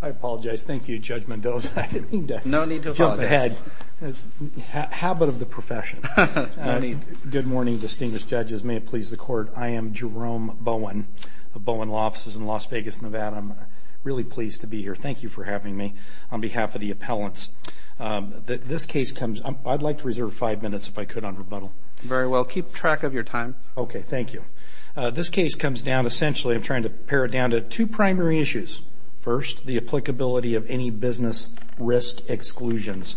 I apologize. Thank you, Judge Mendoza. I didn't mean to jump ahead. No need to apologize. It's the habit of the profession. Good morning, distinguished judges. May it please the Court. I am Jerome Bowen of Bowen Law Offices in Las Vegas, Nevada. I'm really pleased to be here. Thank you for having me on behalf of the appellants. I'd like to reserve five minutes, if I could, on rebuttal. Very well. Keep track of your time. Okay. Thank you. This case comes down, essentially, I'm trying to pare it down to two primary issues. First, the applicability of any business risk exclusions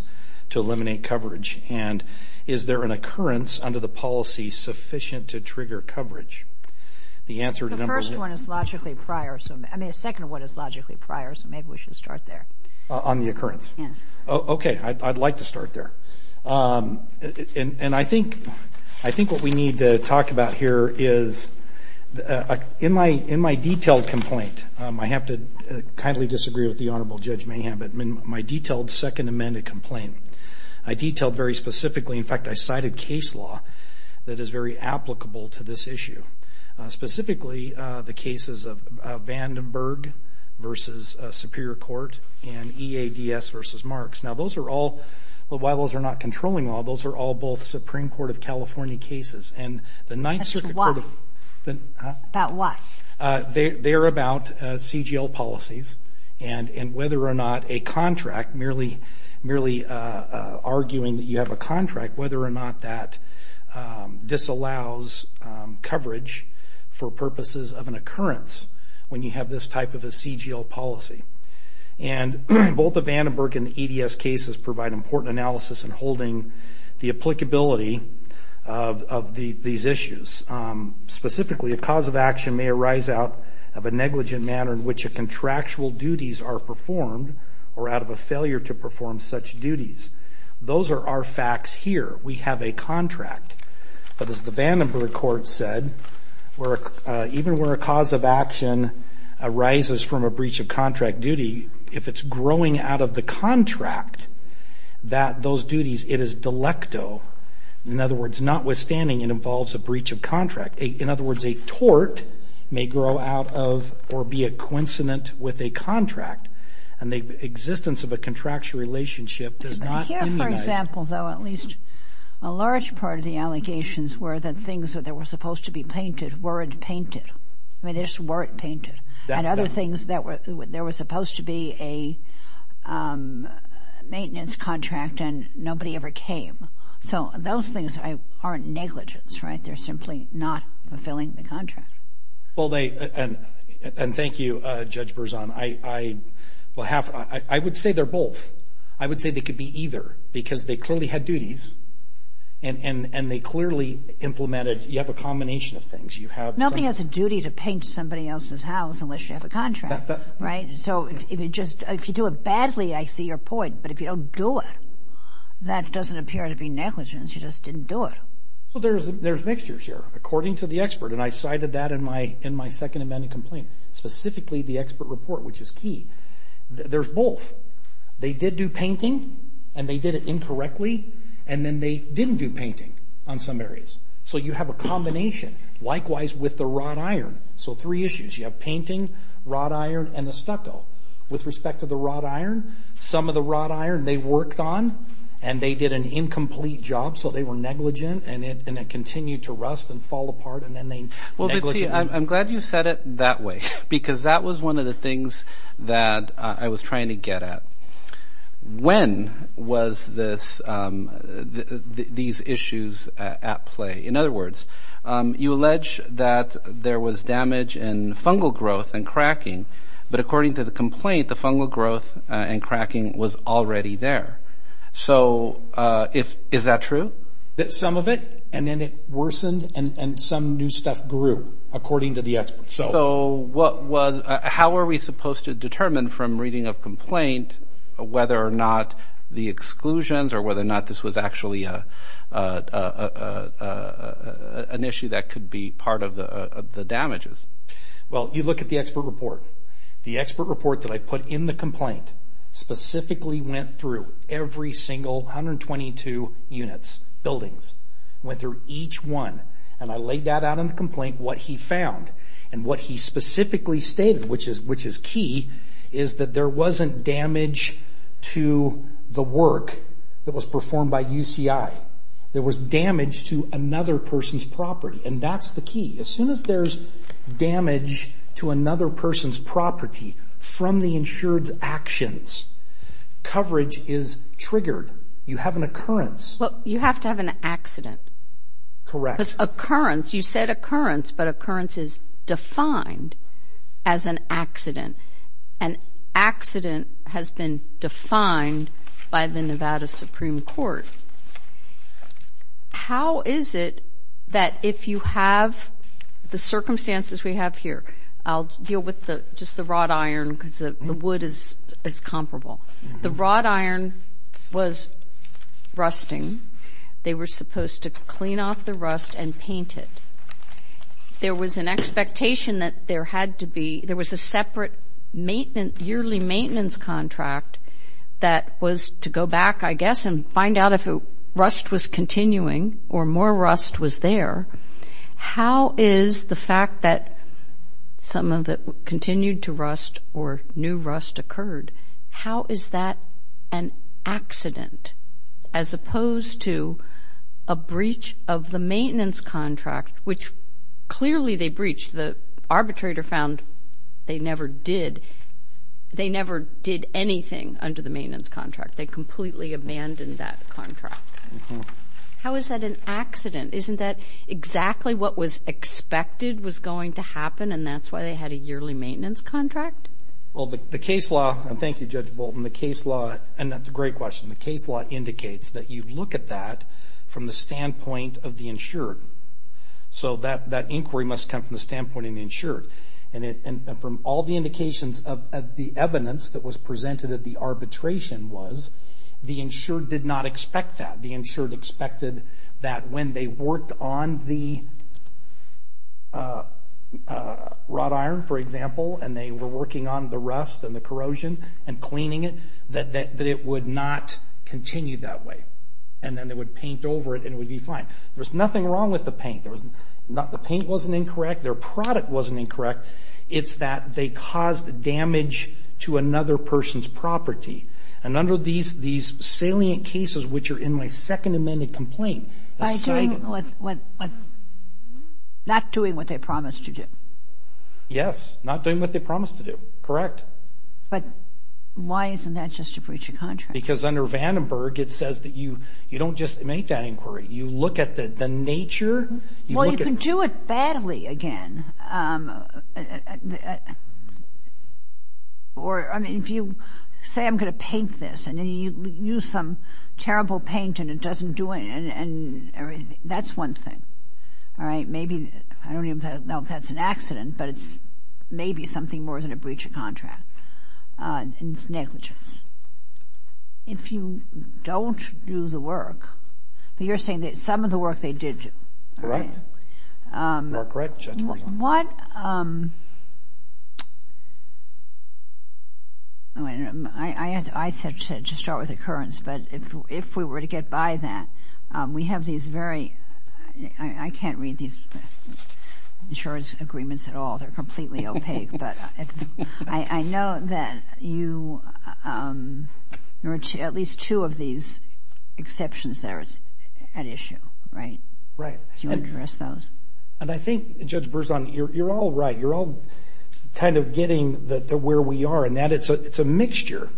to eliminate coverage. And is there an occurrence under the policy sufficient to trigger coverage? The answer to number one. The first one is logically prior. I mean, the second one is logically prior, so maybe we should start there. On the occurrence? Yes. Okay. I'd like to start there. And I think what we need to talk about here is, in my detailed complaint, I have to kindly disagree with the Honorable Judge Mayhem, but in my detailed Second Amendment complaint, I detailed very specifically, in fact, I cited case law that is very applicable to this issue. Specifically, the cases of Vandenberg v. Superior Court and EADS v. Marks. Now, while those are not controlling law, those are all both Supreme Court of California cases. As to why? About what? They're about CGL policies and whether or not a contract, merely arguing that you have a contract, whether or not that disallows coverage for purposes of an occurrence when you have this type of a CGL policy. And both the Vandenberg and EADS cases provide important analysis in holding the applicability of these issues. Specifically, a cause of action may arise out of a negligent manner in which a contractual duties are performed or out of a failure to perform such duties. Those are our facts here. We have a contract. But as the Vandenberg court said, even where a cause of action arises from a breach of contract duty, if it's growing out of the contract, that those duties, it is delecto. In other words, notwithstanding, it involves a breach of contract. In other words, a tort may grow out of or be a coincident with a contract, and the existence of a contractual relationship does not immunize. Here, for example, though, at least a large part of the allegations were that things that were supposed to be painted weren't painted. I mean, they just weren't painted. And other things, there was supposed to be a maintenance contract and nobody ever came. So those things aren't negligence, right? They're simply not fulfilling the contract. Well, and thank you, Judge Berzon. I would say they're both. I would say they could be either because they clearly had duties, and they clearly implemented. You have a combination of things. Nobody has a duty to paint somebody else's house unless you have a contract, right? So if you do it badly, I see your point. But if you don't do it, that doesn't appear to be negligence. You just didn't do it. So there's mixtures here, according to the expert. And I cited that in my second amendment complaint, specifically the expert report, which is key. There's both. They did do painting, and they did it incorrectly, and then they didn't do painting on some areas. So you have a combination, likewise with the wrought iron. So three issues. You have painting, wrought iron, and the stucco. With respect to the wrought iron, some of the wrought iron they worked on, and they did an incomplete job, so they were negligent, and it continued to rust and fall apart, and then they negligent. I'm glad you said it that way, because that was one of the things that I was trying to get at. When was these issues at play? In other words, you allege that there was damage in fungal growth and cracking, but according to the complaint, the fungal growth and cracking was already there. So is that true? Some of it, and then it worsened, and some new stuff grew, according to the expert. So how are we supposed to determine from reading of complaint whether or not the exclusions or whether or not this was actually an issue that could be part of the damages? Well, you look at the expert report. The expert report that I put in the complaint specifically went through every single 122 units, buildings. It went through each one, and I laid that out in the complaint, what he found, and what he specifically stated, which is key, is that there wasn't damage to the work that was performed by UCI. There was damage to another person's property, and that's the key. As soon as there's damage to another person's property from the insured's actions, coverage is triggered. You have an occurrence. Well, you have to have an accident. Correct. Because occurrence, you said occurrence, but occurrence is defined as an accident. An accident has been defined by the Nevada Supreme Court. How is it that if you have the circumstances we have here? I'll deal with just the wrought iron because the wood is comparable. The wrought iron was rusting. They were supposed to clean off the rust and paint it. There was an expectation that there had to be, there was a separate yearly maintenance contract that was to go back, I guess, and find out if rust was continuing or more rust was there. How is the fact that some of it continued to rust or new rust occurred, how is that an accident as opposed to a breach of the maintenance contract, which clearly they breached. The arbitrator found they never did. They never did anything under the maintenance contract. They completely abandoned that contract. How is that an accident? Isn't that exactly what was expected was going to happen, and that's why they had a yearly maintenance contract? Well, the case law, and thank you, Judge Bolton, the case law, and that's a great question, So that inquiry must come from the standpoint of the insured, and from all the indications of the evidence that was presented at the arbitration was the insured did not expect that. The insured expected that when they worked on the wrought iron, for example, and they were working on the rust and the corrosion and cleaning it, that it would not continue that way, and then they would paint over it and it would be fine. There was nothing wrong with the paint. The paint wasn't incorrect. Their product wasn't incorrect. It's that they caused damage to another person's property, and under these salient cases, which are in my second amended complaint, By doing what? Not doing what they promised to do. Yes, not doing what they promised to do. Correct. But why isn't that just a breach of contract? Because under Vandenberg, it says that you don't just make that inquiry. You look at the nature. Well, you can do it badly again. Or, I mean, if you say I'm going to paint this, and then you use some terrible paint and it doesn't do anything, that's one thing. All right? Maybe, I don't even know if that's an accident, but it's maybe something more than a breach of contract. It's negligence. If you don't do the work, but you're saying that some of the work they did do. You are correct, gentlemen. What – I said to start with occurrence, but if we were to get by that, we have these very – I can't read these insurance agreements at all. They're completely opaque. I know that you – there are at least two of these exceptions there at issue, right? Right. Do you address those? And I think, Judge Berzon, you're all right. You're all kind of getting to where we are in that it's a mixture.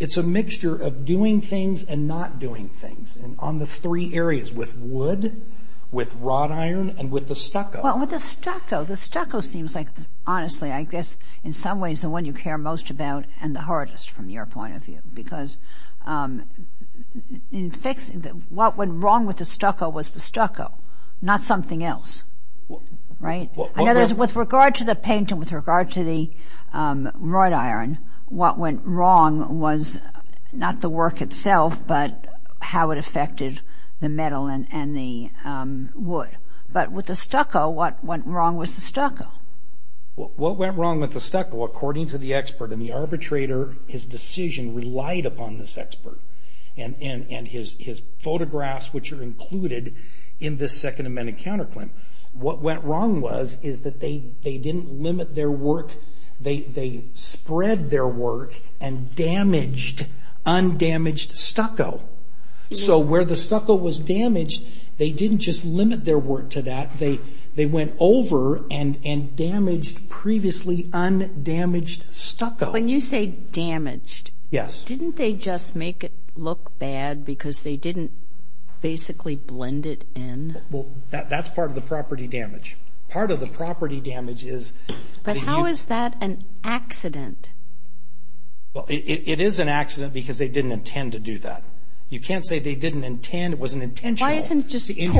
It's a mixture of doing things and not doing things on the three areas, with wood, with wrought iron, and with the stucco. Well, with the stucco. The stucco seems like, honestly, I guess, in some ways, the one you care most about and the hardest from your point of view. Because in fixing – what went wrong with the stucco was the stucco, not something else. Right? With regard to the paint and with regard to the wrought iron, what went wrong was not the work itself, but how it affected the metal and the wood. But with the stucco, what went wrong was the stucco. What went wrong with the stucco, according to the expert and the arbitrator, his decision relied upon this expert and his photographs, which are included in this Second Amendment counterclaim, what went wrong was is that they didn't limit their work. They spread their work and damaged undamaged stucco. So where the stucco was damaged, they didn't just limit their work to that. They went over and damaged previously undamaged stucco. When you say damaged, didn't they just make it look bad because they didn't basically blend it in? Well, that's part of the property damage. Part of the property damage is – But how is that an accident? Well, it is an accident because they didn't intend to do that. You can't say they didn't intend, it wasn't intentional to injure the property. Why isn't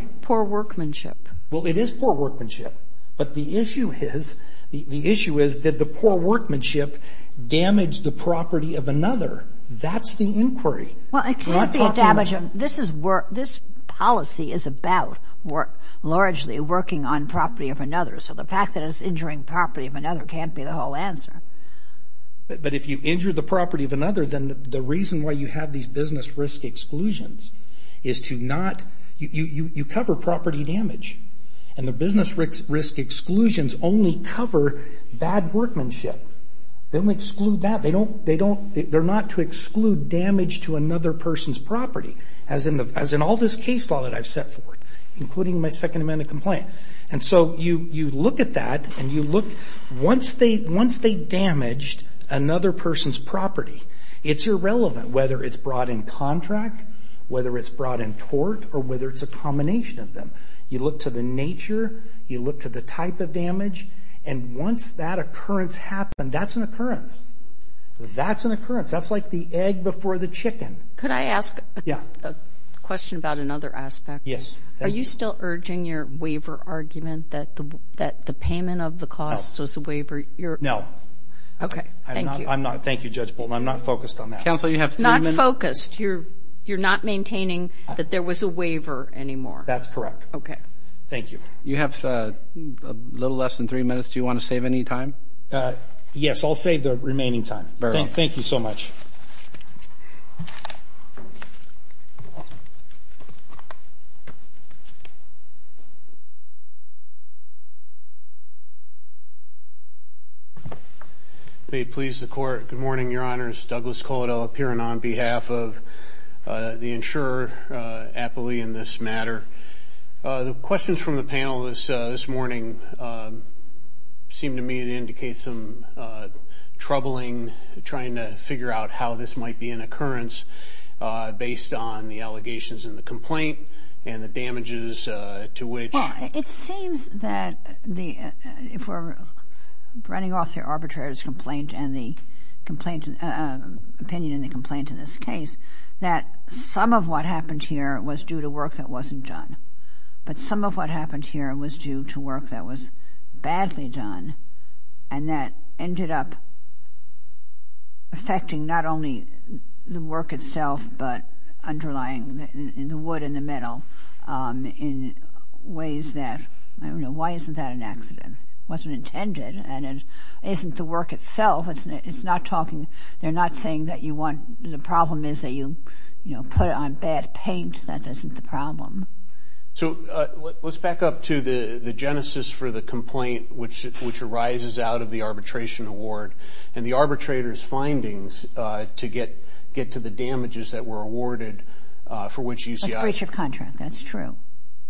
it just poor workmanship? Well, it is poor workmanship. But the issue is did the poor workmanship damage the property of another? That's the inquiry. Well, it can't be a damage. This policy is about largely working on property of another. So the fact that it's injuring property of another can't be the whole answer. But if you injure the property of another, then the reason why you have these business risk exclusions is to not – you cover property damage. And the business risk exclusions only cover bad workmanship. They only exclude that. They're not to exclude damage to another person's property, as in all this case law that I've set forth, including my Second Amendment complaint. And so you look at that and you look – once they damaged another person's property, it's irrelevant whether it's brought in contract, whether it's brought in tort, or whether it's a combination of them. You look to the nature, you look to the type of damage, and once that occurrence happened, that's an occurrence. That's an occurrence. That's like the egg before the chicken. Could I ask a question about another aspect? Yes. Are you still urging your waiver argument that the payment of the costs was a waiver? No. Okay, thank you. I'm not. Thank you, Judge Bolton. I'm not focused on that. Counsel, you have three minutes. Not focused. You're not maintaining that there was a waiver anymore. That's correct. Okay. Thank you. You have a little less than three minutes. Do you want to save any time? Yes, I'll save the remaining time. Very well. Thank you so much. Thank you. May it please the Court, good morning, Your Honors. Douglas Coladel up here, and on behalf of the insurer, Appley, in this matter. The questions from the panel this morning seem to me to indicate some troubling, trying to figure out how this might be an occurrence based on the allegations in the complaint and the damages to which. Well, it seems that if we're running off the arbitrator's complaint and the opinion in the complaint in this case, that some of what happened here was due to work that wasn't done. But some of what happened here was due to work that was badly done and that ended up affecting not only the work itself but underlying the wood in the middle in ways that, I don't know, why isn't that an accident? It wasn't intended and it isn't the work itself. It's not talking, they're not saying that you want, the problem is that you, you know, put it on bad paint. That isn't the problem. So let's back up to the genesis for the complaint which arises out of the arbitration award and the arbitrator's findings to get to the damages that were awarded for which UCI. A breach of contract, that's true.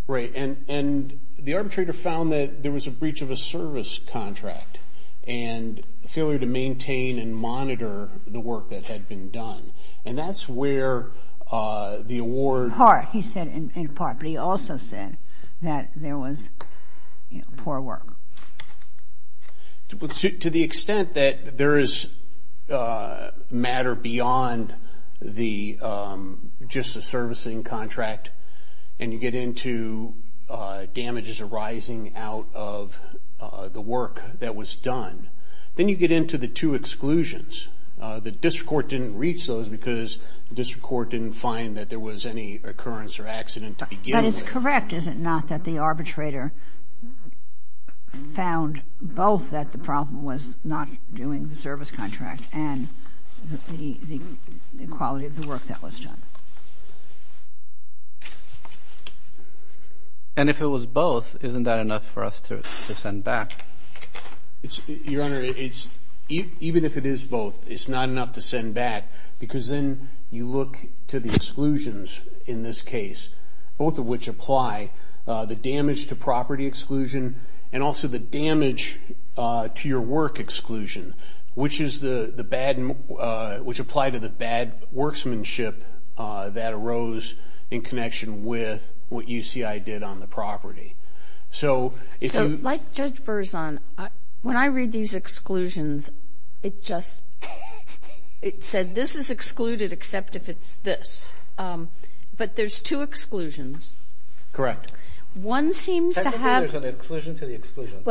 Right, and the arbitrator found that there was a breach of a service contract and failure to maintain and monitor the work that had been done. And that's where the award. Part, he said in part, but he also said that there was poor work. To the extent that there is matter beyond the, just the servicing contract and you get into damages arising out of the work that was done. Then you get into the two exclusions. The district court didn't reach those because the district court didn't find that there was any occurrence or accident to begin with. But that is correct, is it not, that the arbitrator found both that the problem was not doing the service contract and the quality of the work that was done. And if it was both, isn't that enough for us to send back? Your Honor, even if it is both, it's not enough to send back because then you look to the exclusions in this case. Both of which apply. The damage to property exclusion and also the damage to your work exclusion, which is the bad, which apply to the bad worksmanship that arose in connection with what UCI did on the property. So if you. So like Judge Berzon, when I read these exclusions, it just, it said this is excluded except if it's this. But there's two exclusions. Correct. One seems to have. Technically there's an exclusion to the exclusion.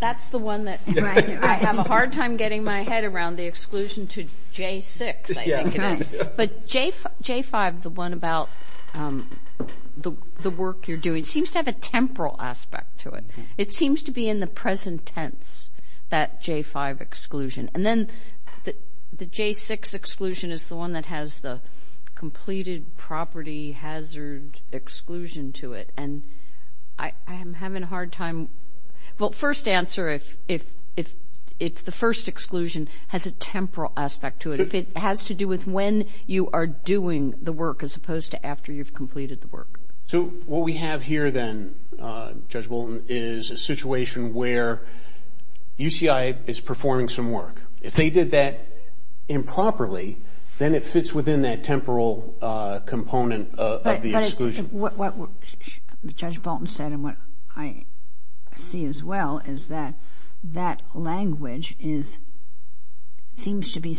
That's the one that I have a hard time getting my head around, the exclusion to J6 I think it is. But J5, the one about the work you're doing, seems to have a temporal aspect to it. It seems to be in the present tense, that J5 exclusion. And then the J6 exclusion is the one that has the completed property hazard exclusion to it. And I am having a hard time. Well, first answer, if the first exclusion has a temporal aspect to it, if it has to do with when you are doing the work as opposed to after you've completed the work. So what we have here then, Judge Bolton, is a situation where UCI is performing some work. If they did that improperly, then it fits within that temporal component of the exclusion. What Judge Bolton said and what I see as well is that that language is, seems to be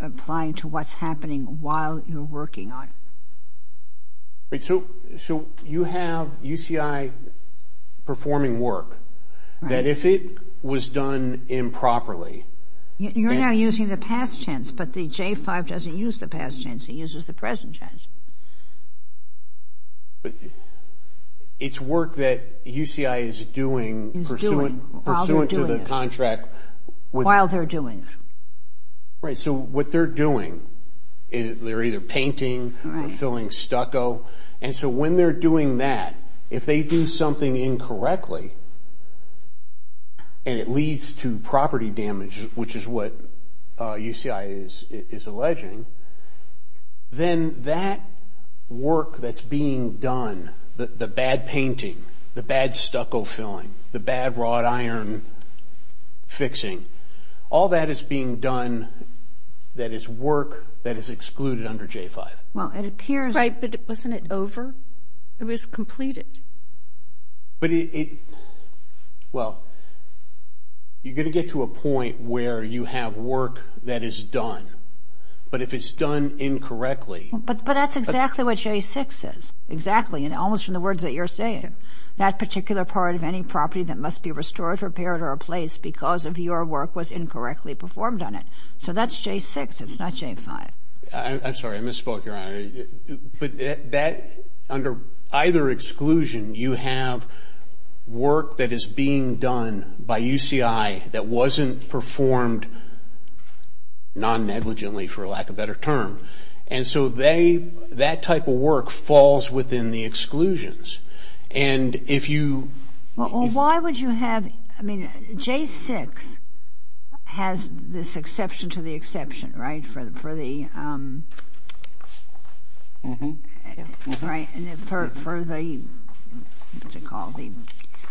applying to what's happening while you're working on it. So you have UCI performing work, that if it was done improperly. You're now using the past tense, but the J5 doesn't use the past tense, it uses the present tense. It's work that UCI is doing pursuant to the contract. While they're doing it. Right, so what they're doing, they're either painting, filling stucco. And so when they're doing that, if they do something incorrectly and it leads to property damage, which is what UCI is alleging, then that work that's being done, the bad painting, the bad stucco filling, the bad wrought iron fixing, all that is being done that is work that is excluded under J5. Well, it appears. Right, but wasn't it over? It was completed. But it, well, you're going to get to a point where you have work that is done. But if it's done incorrectly. But that's exactly what J6 says. Exactly, almost from the words that you're saying. That particular part of any property that must be restored, repaired, or replaced because of your work was incorrectly performed on it. So that's J6, it's not J5. I'm sorry, I misspoke, Your Honor. But that, under either exclusion, you have work that is being done by UCI that wasn't performed non-negligently, for lack of a better term. And so that type of work falls within the exclusions. And if you... Well, why would you have, I mean, J6 has this exception to the exception, right, for the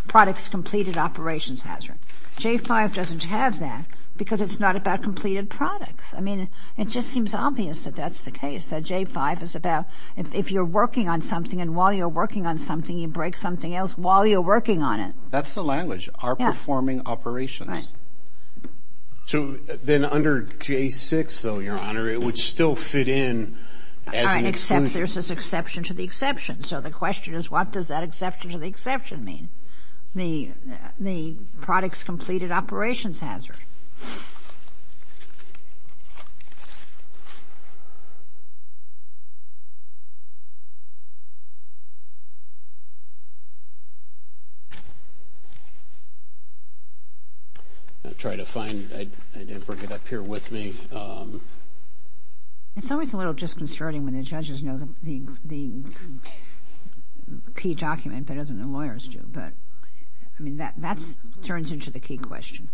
products completed operations hazard. J5 doesn't have that because it's not about completed products. I mean, it just seems obvious that that's the case, that J5 is about if you're working on something and while you're working on something, you break something else while you're working on it. That's the language, are performing operations. Right. So then under J6, though, Your Honor, it would still fit in as an exclusion. Except there's this exception to the exception. So the question is what does that exception to the exception mean? The products completed operations hazard. I'm trying to find it. I didn't bring it up here with me. It's always a little disconcerting when the judges know the key document better than the lawyers do. But, I mean, that turns into the key question.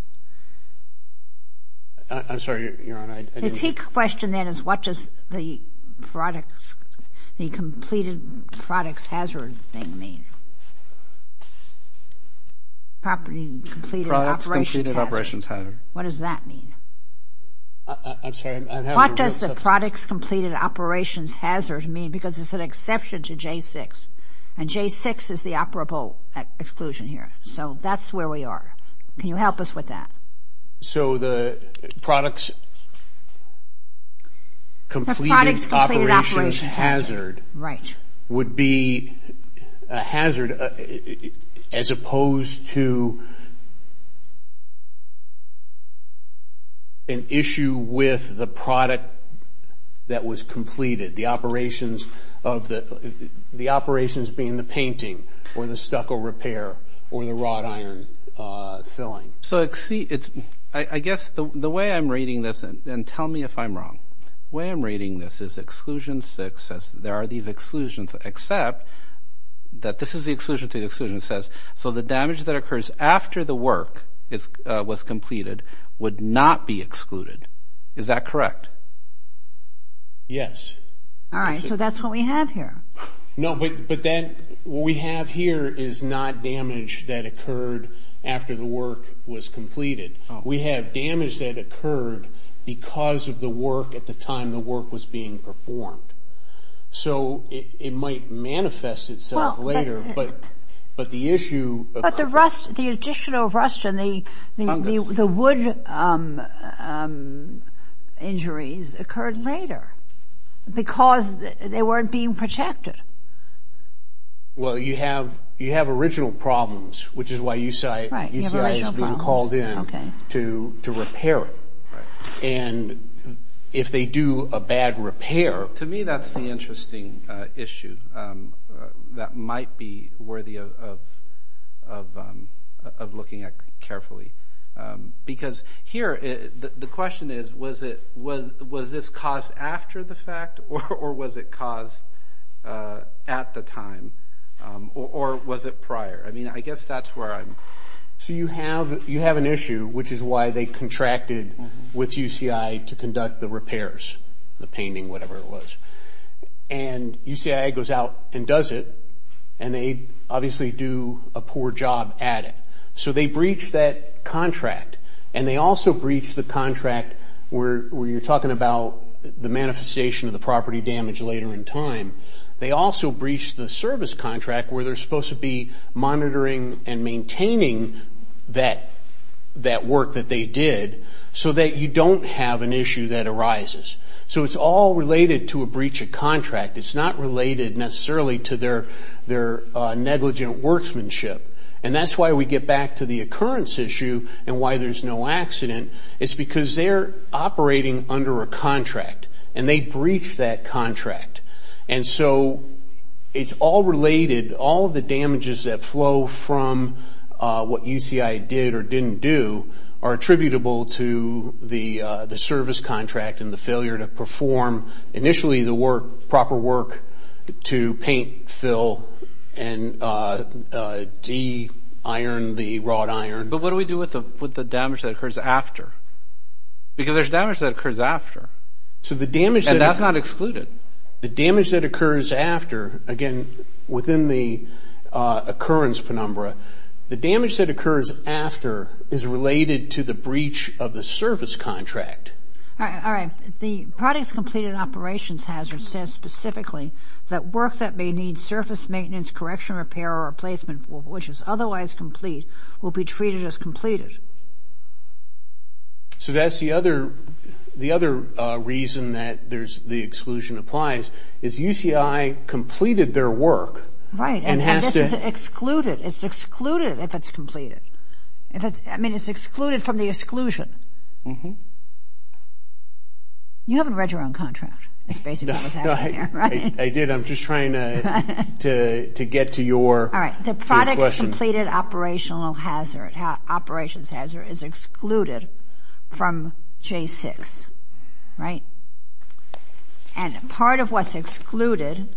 I'm sorry, Your Honor. The key question then is what does the products, the completed products hazard thing mean? Property completed operations hazard. Products completed operations hazard. What does that mean? I'm sorry. What does the products completed operations hazard mean? Because it's an exception to J6. And J6 is the operable exclusion here. So that's where we are. Can you help us with that? So the products completed operations hazard would be a hazard as opposed to an issue with the product that was completed. The operations being the painting or the stucco repair or the wrought iron filling. So I guess the way I'm reading this, and tell me if I'm wrong, the way I'm reading this is Exclusion 6 says there are these exclusions, except that this is the exclusion to the exclusion. It says so the damage that occurs after the work was completed would not be excluded. Is that correct? Yes. All right. So that's what we have here. No, but then what we have here is not damage that occurred after the work was completed. We have damage that occurred because of the work at the time the work was being performed. So it might manifest itself later. But the issue. But the rust, the additional rust and the wood injuries occurred later because they weren't being protected. Well, you have original problems, which is why UCI is being called in to repair it. And if they do a bad repair. To me that's the interesting issue. That might be worthy of looking at carefully. Because here the question is, was this caused after the fact? Or was it caused at the time? Or was it prior? I mean, I guess that's where I'm. So you have an issue, which is why they contracted with UCI to conduct the repairs. The painting, whatever it was. And UCI goes out and does it. And they obviously do a poor job at it. So they breached that contract. And they also breached the contract where you're talking about the manifestation of the property damage later in time. They also breached the service contract where they're supposed to be monitoring and maintaining that work that they did so that you don't have an issue that arises. So it's all related to a breach of contract. It's not related necessarily to their negligent workmanship. And that's why we get back to the occurrence issue and why there's no accident. It's because they're operating under a contract. And they breached that contract. And so it's all related. All of the damages that flow from what UCI did or didn't do are attributable to the service contract and the failure to perform initially the proper work to paint, fill, and de-iron the wrought iron. But what do we do with the damage that occurs after? Because there's damage that occurs after. And that's not excluded. The damage that occurs after, again, within the occurrence penumbra, the damage that occurs after is related to the breach of the service contract. All right. The products completed operations hazard says specifically that work that may need surface maintenance, correction, repair, or replacement, which is otherwise complete, will be treated as completed. So that's the other reason that the exclusion applies, is UCI completed their work and has to- Right. And this is excluded. It's excluded if it's completed. I mean, it's excluded from the exclusion. You haven't read your own contract. It's basically what's happening here, right? I'm just trying to get to your question. All right. The products completed operations hazard is excluded from J6, right? And part of what's excluded,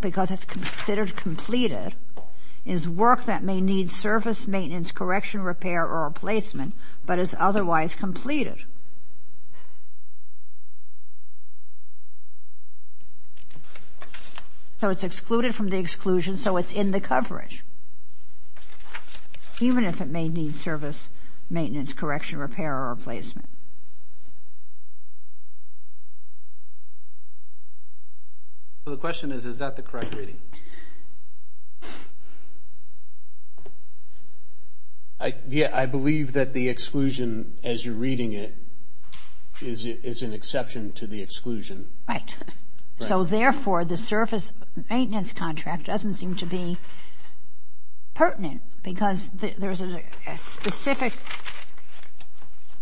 because it's considered completed, is work that may need surface maintenance, correction, repair, or replacement, but is otherwise completed. So it's excluded from the exclusion, so it's in the coverage, even if it may need service maintenance, correction, repair, or replacement. So the question is, is that the correct reading? Yeah, I believe that the exclusion, as you're reading it, is an exception to the exclusion. Right. So, therefore, the surface maintenance contract doesn't seem to be pertinent because there's a specific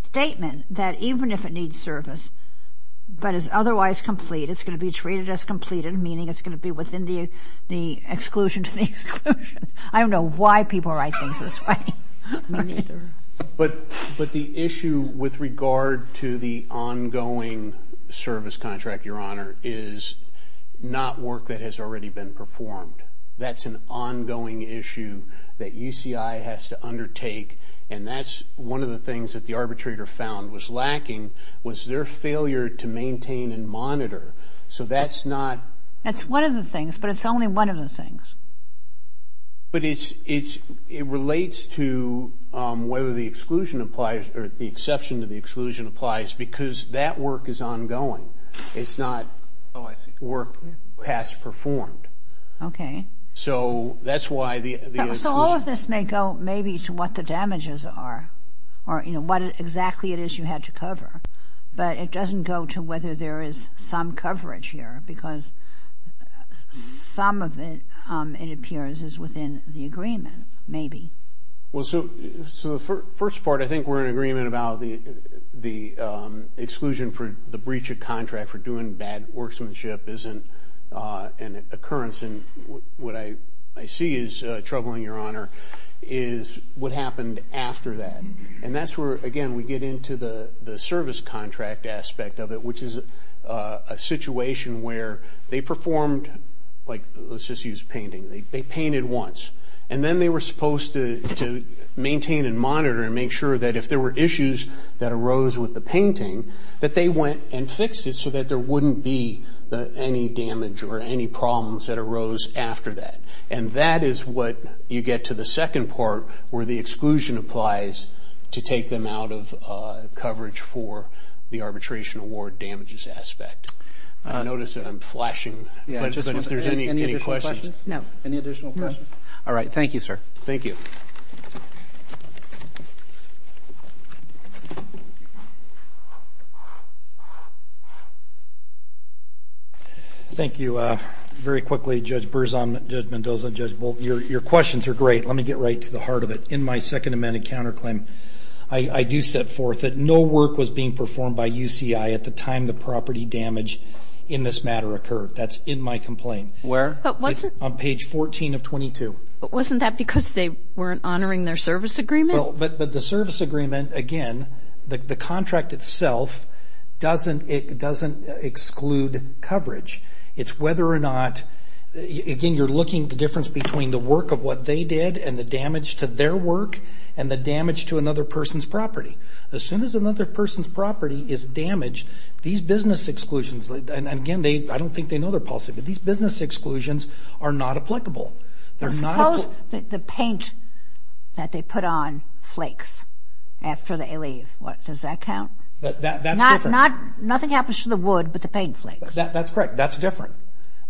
statement that even if it needs service, but is otherwise complete, it's going to be treated as completed, meaning it's going to be within the exclusion to the exclusion. Me neither. But the issue with regard to the ongoing service contract, Your Honor, is not work that has already been performed. That's an ongoing issue that UCI has to undertake, and that's one of the things that the arbitrator found was lacking, was their failure to maintain and monitor. So that's not... That's one of the things, but it's only one of the things. But it relates to whether the exclusion applies or the exception to the exclusion applies because that work is ongoing. It's not work past performed. Okay. So that's why the exclusion... So all of this may go maybe to what the damages are or, you know, what exactly it is you had to cover, but it doesn't go to whether there is some coverage here because some of it, it appears, is within the agreement, maybe. Well, so the first part, I think we're in agreement about the exclusion for the breach of contract for doing bad workmanship isn't an occurrence. And what I see as troubling, Your Honor, is what happened after that. And that's where, again, we get into the service contract aspect of it, which is a situation where they performed, like, let's just use painting. They painted once. And then they were supposed to maintain and monitor and make sure that if there were issues that arose with the painting, that they went and fixed it so that there wouldn't be any damage or any problems that arose after that. And that is what you get to the second part where the exclusion applies to take them out of coverage for the arbitration award damages aspect. I notice that I'm flashing, but if there's any questions. Any additional questions? No. Any additional questions? No. All right. Thank you, sir. Thank you. Thank you. Very quickly, Judge Berzon, Judge Mendoza, Judge Bolton, your questions are great. Let me get right to the heart of it. In my second amendment counterclaim, I do set forth that no work was being performed by UCI at the time the property damage in this matter occurred. That's in my complaint. Where? On page 14 of 22. But wasn't that because they weren't honoring their service agreement? But the service agreement, again, the contract itself doesn't exclude coverage. It's whether or not, again, between the work of what they did and the damage to their work and the damage to another person's property. As soon as another person's property is damaged, these business exclusions, and again, I don't think they know their policy, but these business exclusions are not applicable. Suppose the paint that they put on flakes after they leave. Does that count? That's different. Nothing happens to the wood, but the paint flakes. That's correct. That's different.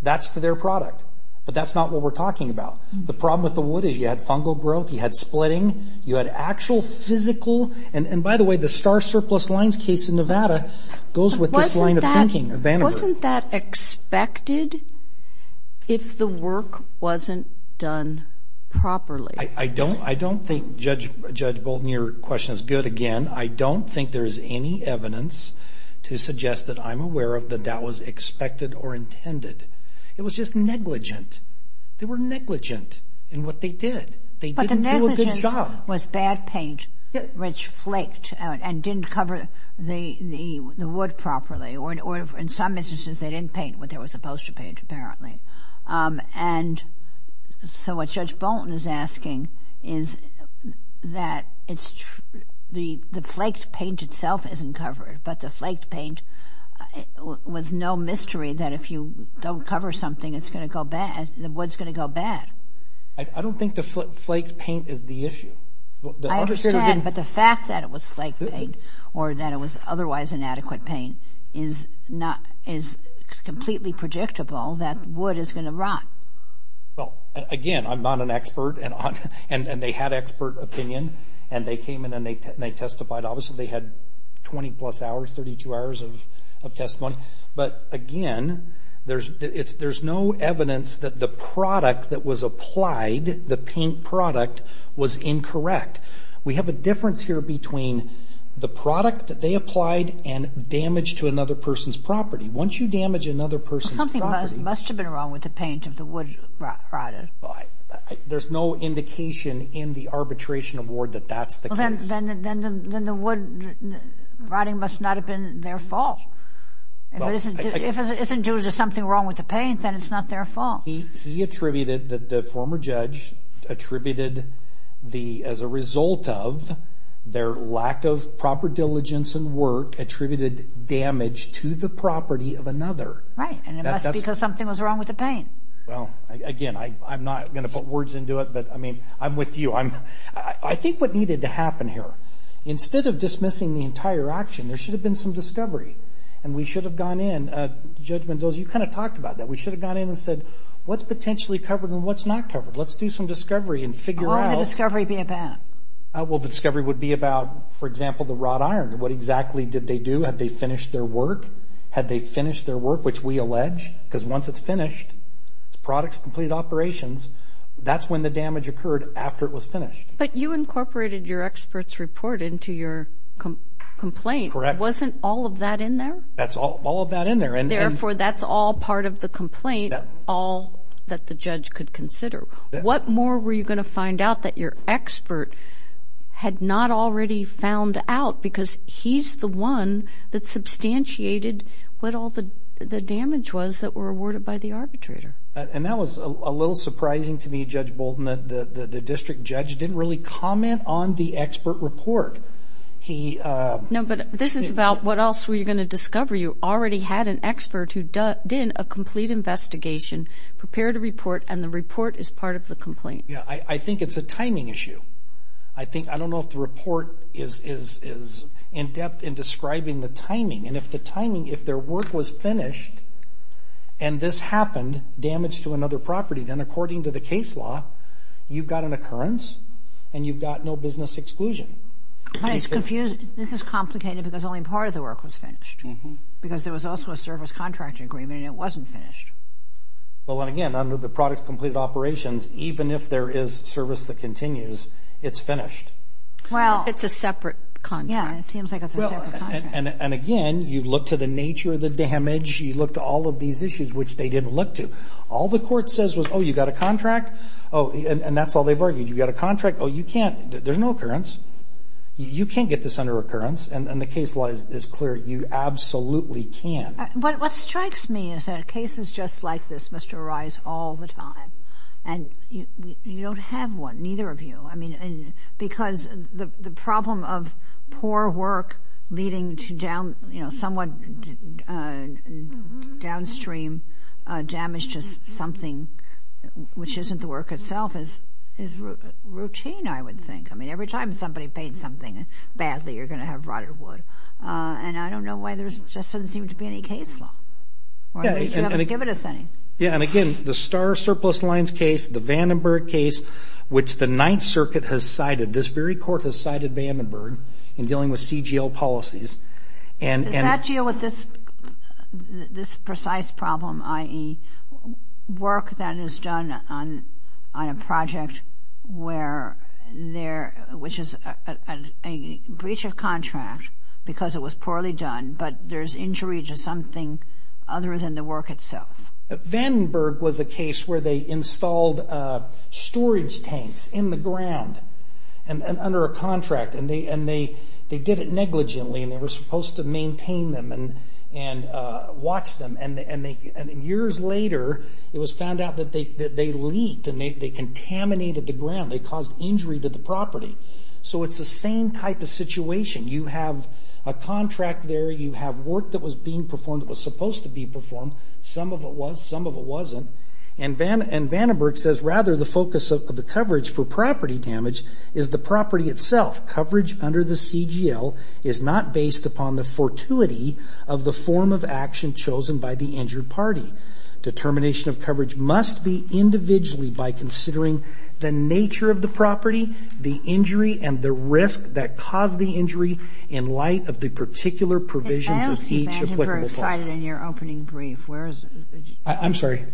That's for their product. But that's not what we're talking about. The problem with the wood is you had fungal growth, you had splitting, you had actual physical, and by the way, the star surplus lines case in Nevada goes with this line of thinking. Wasn't that expected if the work wasn't done properly? I don't think, Judge Bolton, your question is good again. I don't think there's any evidence to suggest that I'm aware of that that was expected or intended. It was just negligent. They were negligent in what they did. They didn't do a good job. But the negligence was bad paint, which flaked and didn't cover the wood properly, or in some instances they didn't paint what they were supposed to paint, apparently. And so what Judge Bolton is asking is that the flaked paint itself isn't covered, but the flaked paint was no mystery that if you don't cover something, it's going to go bad, the wood's going to go bad. I don't think the flaked paint is the issue. I understand, but the fact that it was flaked paint or that it was otherwise inadequate paint is completely predictable that wood is going to rot. Well, again, I'm not an expert, and they had expert opinion, and they came in and they testified. Obviously they had 20-plus hours, 32 hours of testimony. But, again, there's no evidence that the product that was applied, the paint product, was incorrect. We have a difference here between the product that they applied and damage to another person's property. Once you damage another person's property. Something must have been wrong with the paint if the wood rotted. There's no indication in the arbitration award that that's the case. Well, then the wood rotting must not have been their fault. If it isn't due to something wrong with the paint, then it's not their fault. He attributed that the former judge attributed as a result of their lack of proper diligence and work attributed damage to the property of another. Right, and it must be because something was wrong with the paint. Well, again, I'm not going to put words into it, but, I mean, I'm with you. I think what needed to happen here, instead of dismissing the entire action, there should have been some discovery, and we should have gone in. Judge Mendoza, you kind of talked about that. We should have gone in and said, what's potentially covered and what's not covered? Let's do some discovery and figure out. What would the discovery be about? Well, the discovery would be about, for example, the wrought iron. What exactly did they do? Had they finished their work? Had they finished their work, which we allege, because once it's finished, its products complete operations, that's when the damage occurred after it was finished. But you incorporated your expert's report into your complaint. Correct. Wasn't all of that in there? That's all of that in there. Therefore, that's all part of the complaint, all that the judge could consider. What more were you going to find out that your expert had not already found out, because he's the one that substantiated what all the damage was that were awarded by the arbitrator. And that was a little surprising to me, Judge Bolden, that the district judge didn't really comment on the expert report. No, but this is about what else were you going to discover. You already had an expert who did a complete investigation, prepared a report, and the report is part of the complaint. I think it's a timing issue. I don't know if the report is in-depth in describing the timing, and if the timing, if their work was finished and this happened, damage to another property, then according to the case law, you've got an occurrence and you've got no business exclusion. But it's confusing. This is complicated because only part of the work was finished, because there was also a service contract agreement and it wasn't finished. Well, and again, under the products completed operations, even if there is service that continues, it's finished. Well, it's a separate contract. Yeah, it seems like it's a separate contract. And again, you look to the nature of the damage, you look to all of these issues, which they didn't look to. All the court says was, oh, you've got a contract, and that's all they've argued. You've got a contract, oh, you can't, there's no occurrence. You can't get this under occurrence, and the case law is clear, you absolutely can. What strikes me is that cases just like this must arise all the time. And you don't have one, neither of you. I mean, because the problem of poor work leading to down, you know, somewhat downstream damage to something which isn't the work itself is routine, I would think. I mean, every time somebody paints something badly, you're going to have rotted wood. And I don't know why there just doesn't seem to be any case law. Or they haven't given us any. Yeah, and again, the Star Surplus Lines case, the Vandenberg case, which the Ninth Circuit has cited, this very court has cited Vandenberg in dealing with CGL policies. Does that deal with this precise problem, i.e., work that is done on a project where there, which is a breach of contract because it was poorly done, but there's injury to something other than the work itself? Vandenberg was a case where they installed storage tanks in the ground under a contract, and they did it negligently, and they were supposed to maintain them and watch them. And years later, it was found out that they leaked and they contaminated the ground. They caused injury to the property. So it's the same type of situation. You have a contract there. You have work that was being performed that was supposed to be performed. Some of it was. Some of it wasn't. And Vandenberg says, rather, the focus of the coverage for property damage is the property itself. Coverage under the CGL is not based upon the fortuity of the form of action chosen by the injured party. Determination of coverage must be individually by considering the nature of the property, the injury, and the risk that caused the injury in light of the particular provisions of each applicable clause. I don't see Vandenberg cited in your opening brief. Where is it? I'm sorry?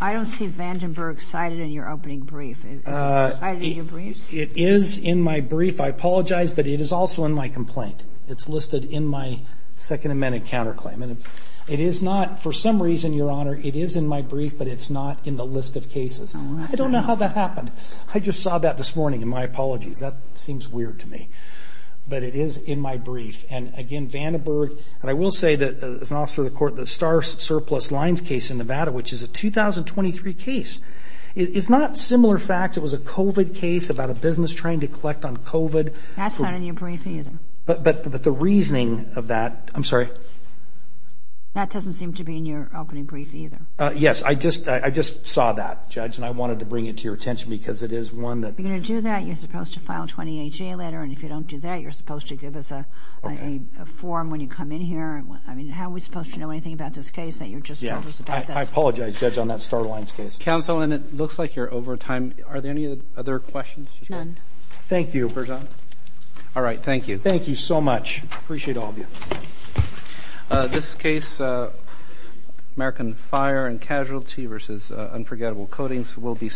I don't see Vandenberg cited in your opening brief. Is it cited in your brief? It is in my brief. I apologize, but it is also in my complaint. It's listed in my Second Amendment counterclaim. It is not, for some reason, Your Honor, it is in my brief, but it's not in the list of cases. I don't know how that happened. I just saw that this morning, and my apologies. That seems weird to me. But it is in my brief. And, again, Vandenberg, and I will say that as an officer of the court, the Star Surplus Lines case in Nevada, which is a 2023 case, it's not similar facts. It was a COVID case about a business trying to collect on COVID. That's not in your brief either. But the reasoning of that – I'm sorry? That doesn't seem to be in your opening brief either. Yes. I just saw that, Judge, and I wanted to bring it to your attention because it is one that – If you're going to do that, you're supposed to file a 20HA letter, and if you don't do that, you're supposed to give us a form when you come in here. I mean, how are we supposed to know anything about this case that you just told us about? I apologize, Judge, on that Star Lines case. Counsel, and it looks like you're over time. Are there any other questions? None. Thank you, Your Honor. All right. Thank you. Thank you so much. Appreciate all of you. This case, American Fire and Casualty v. Unforgettable Coatings, will be submitted.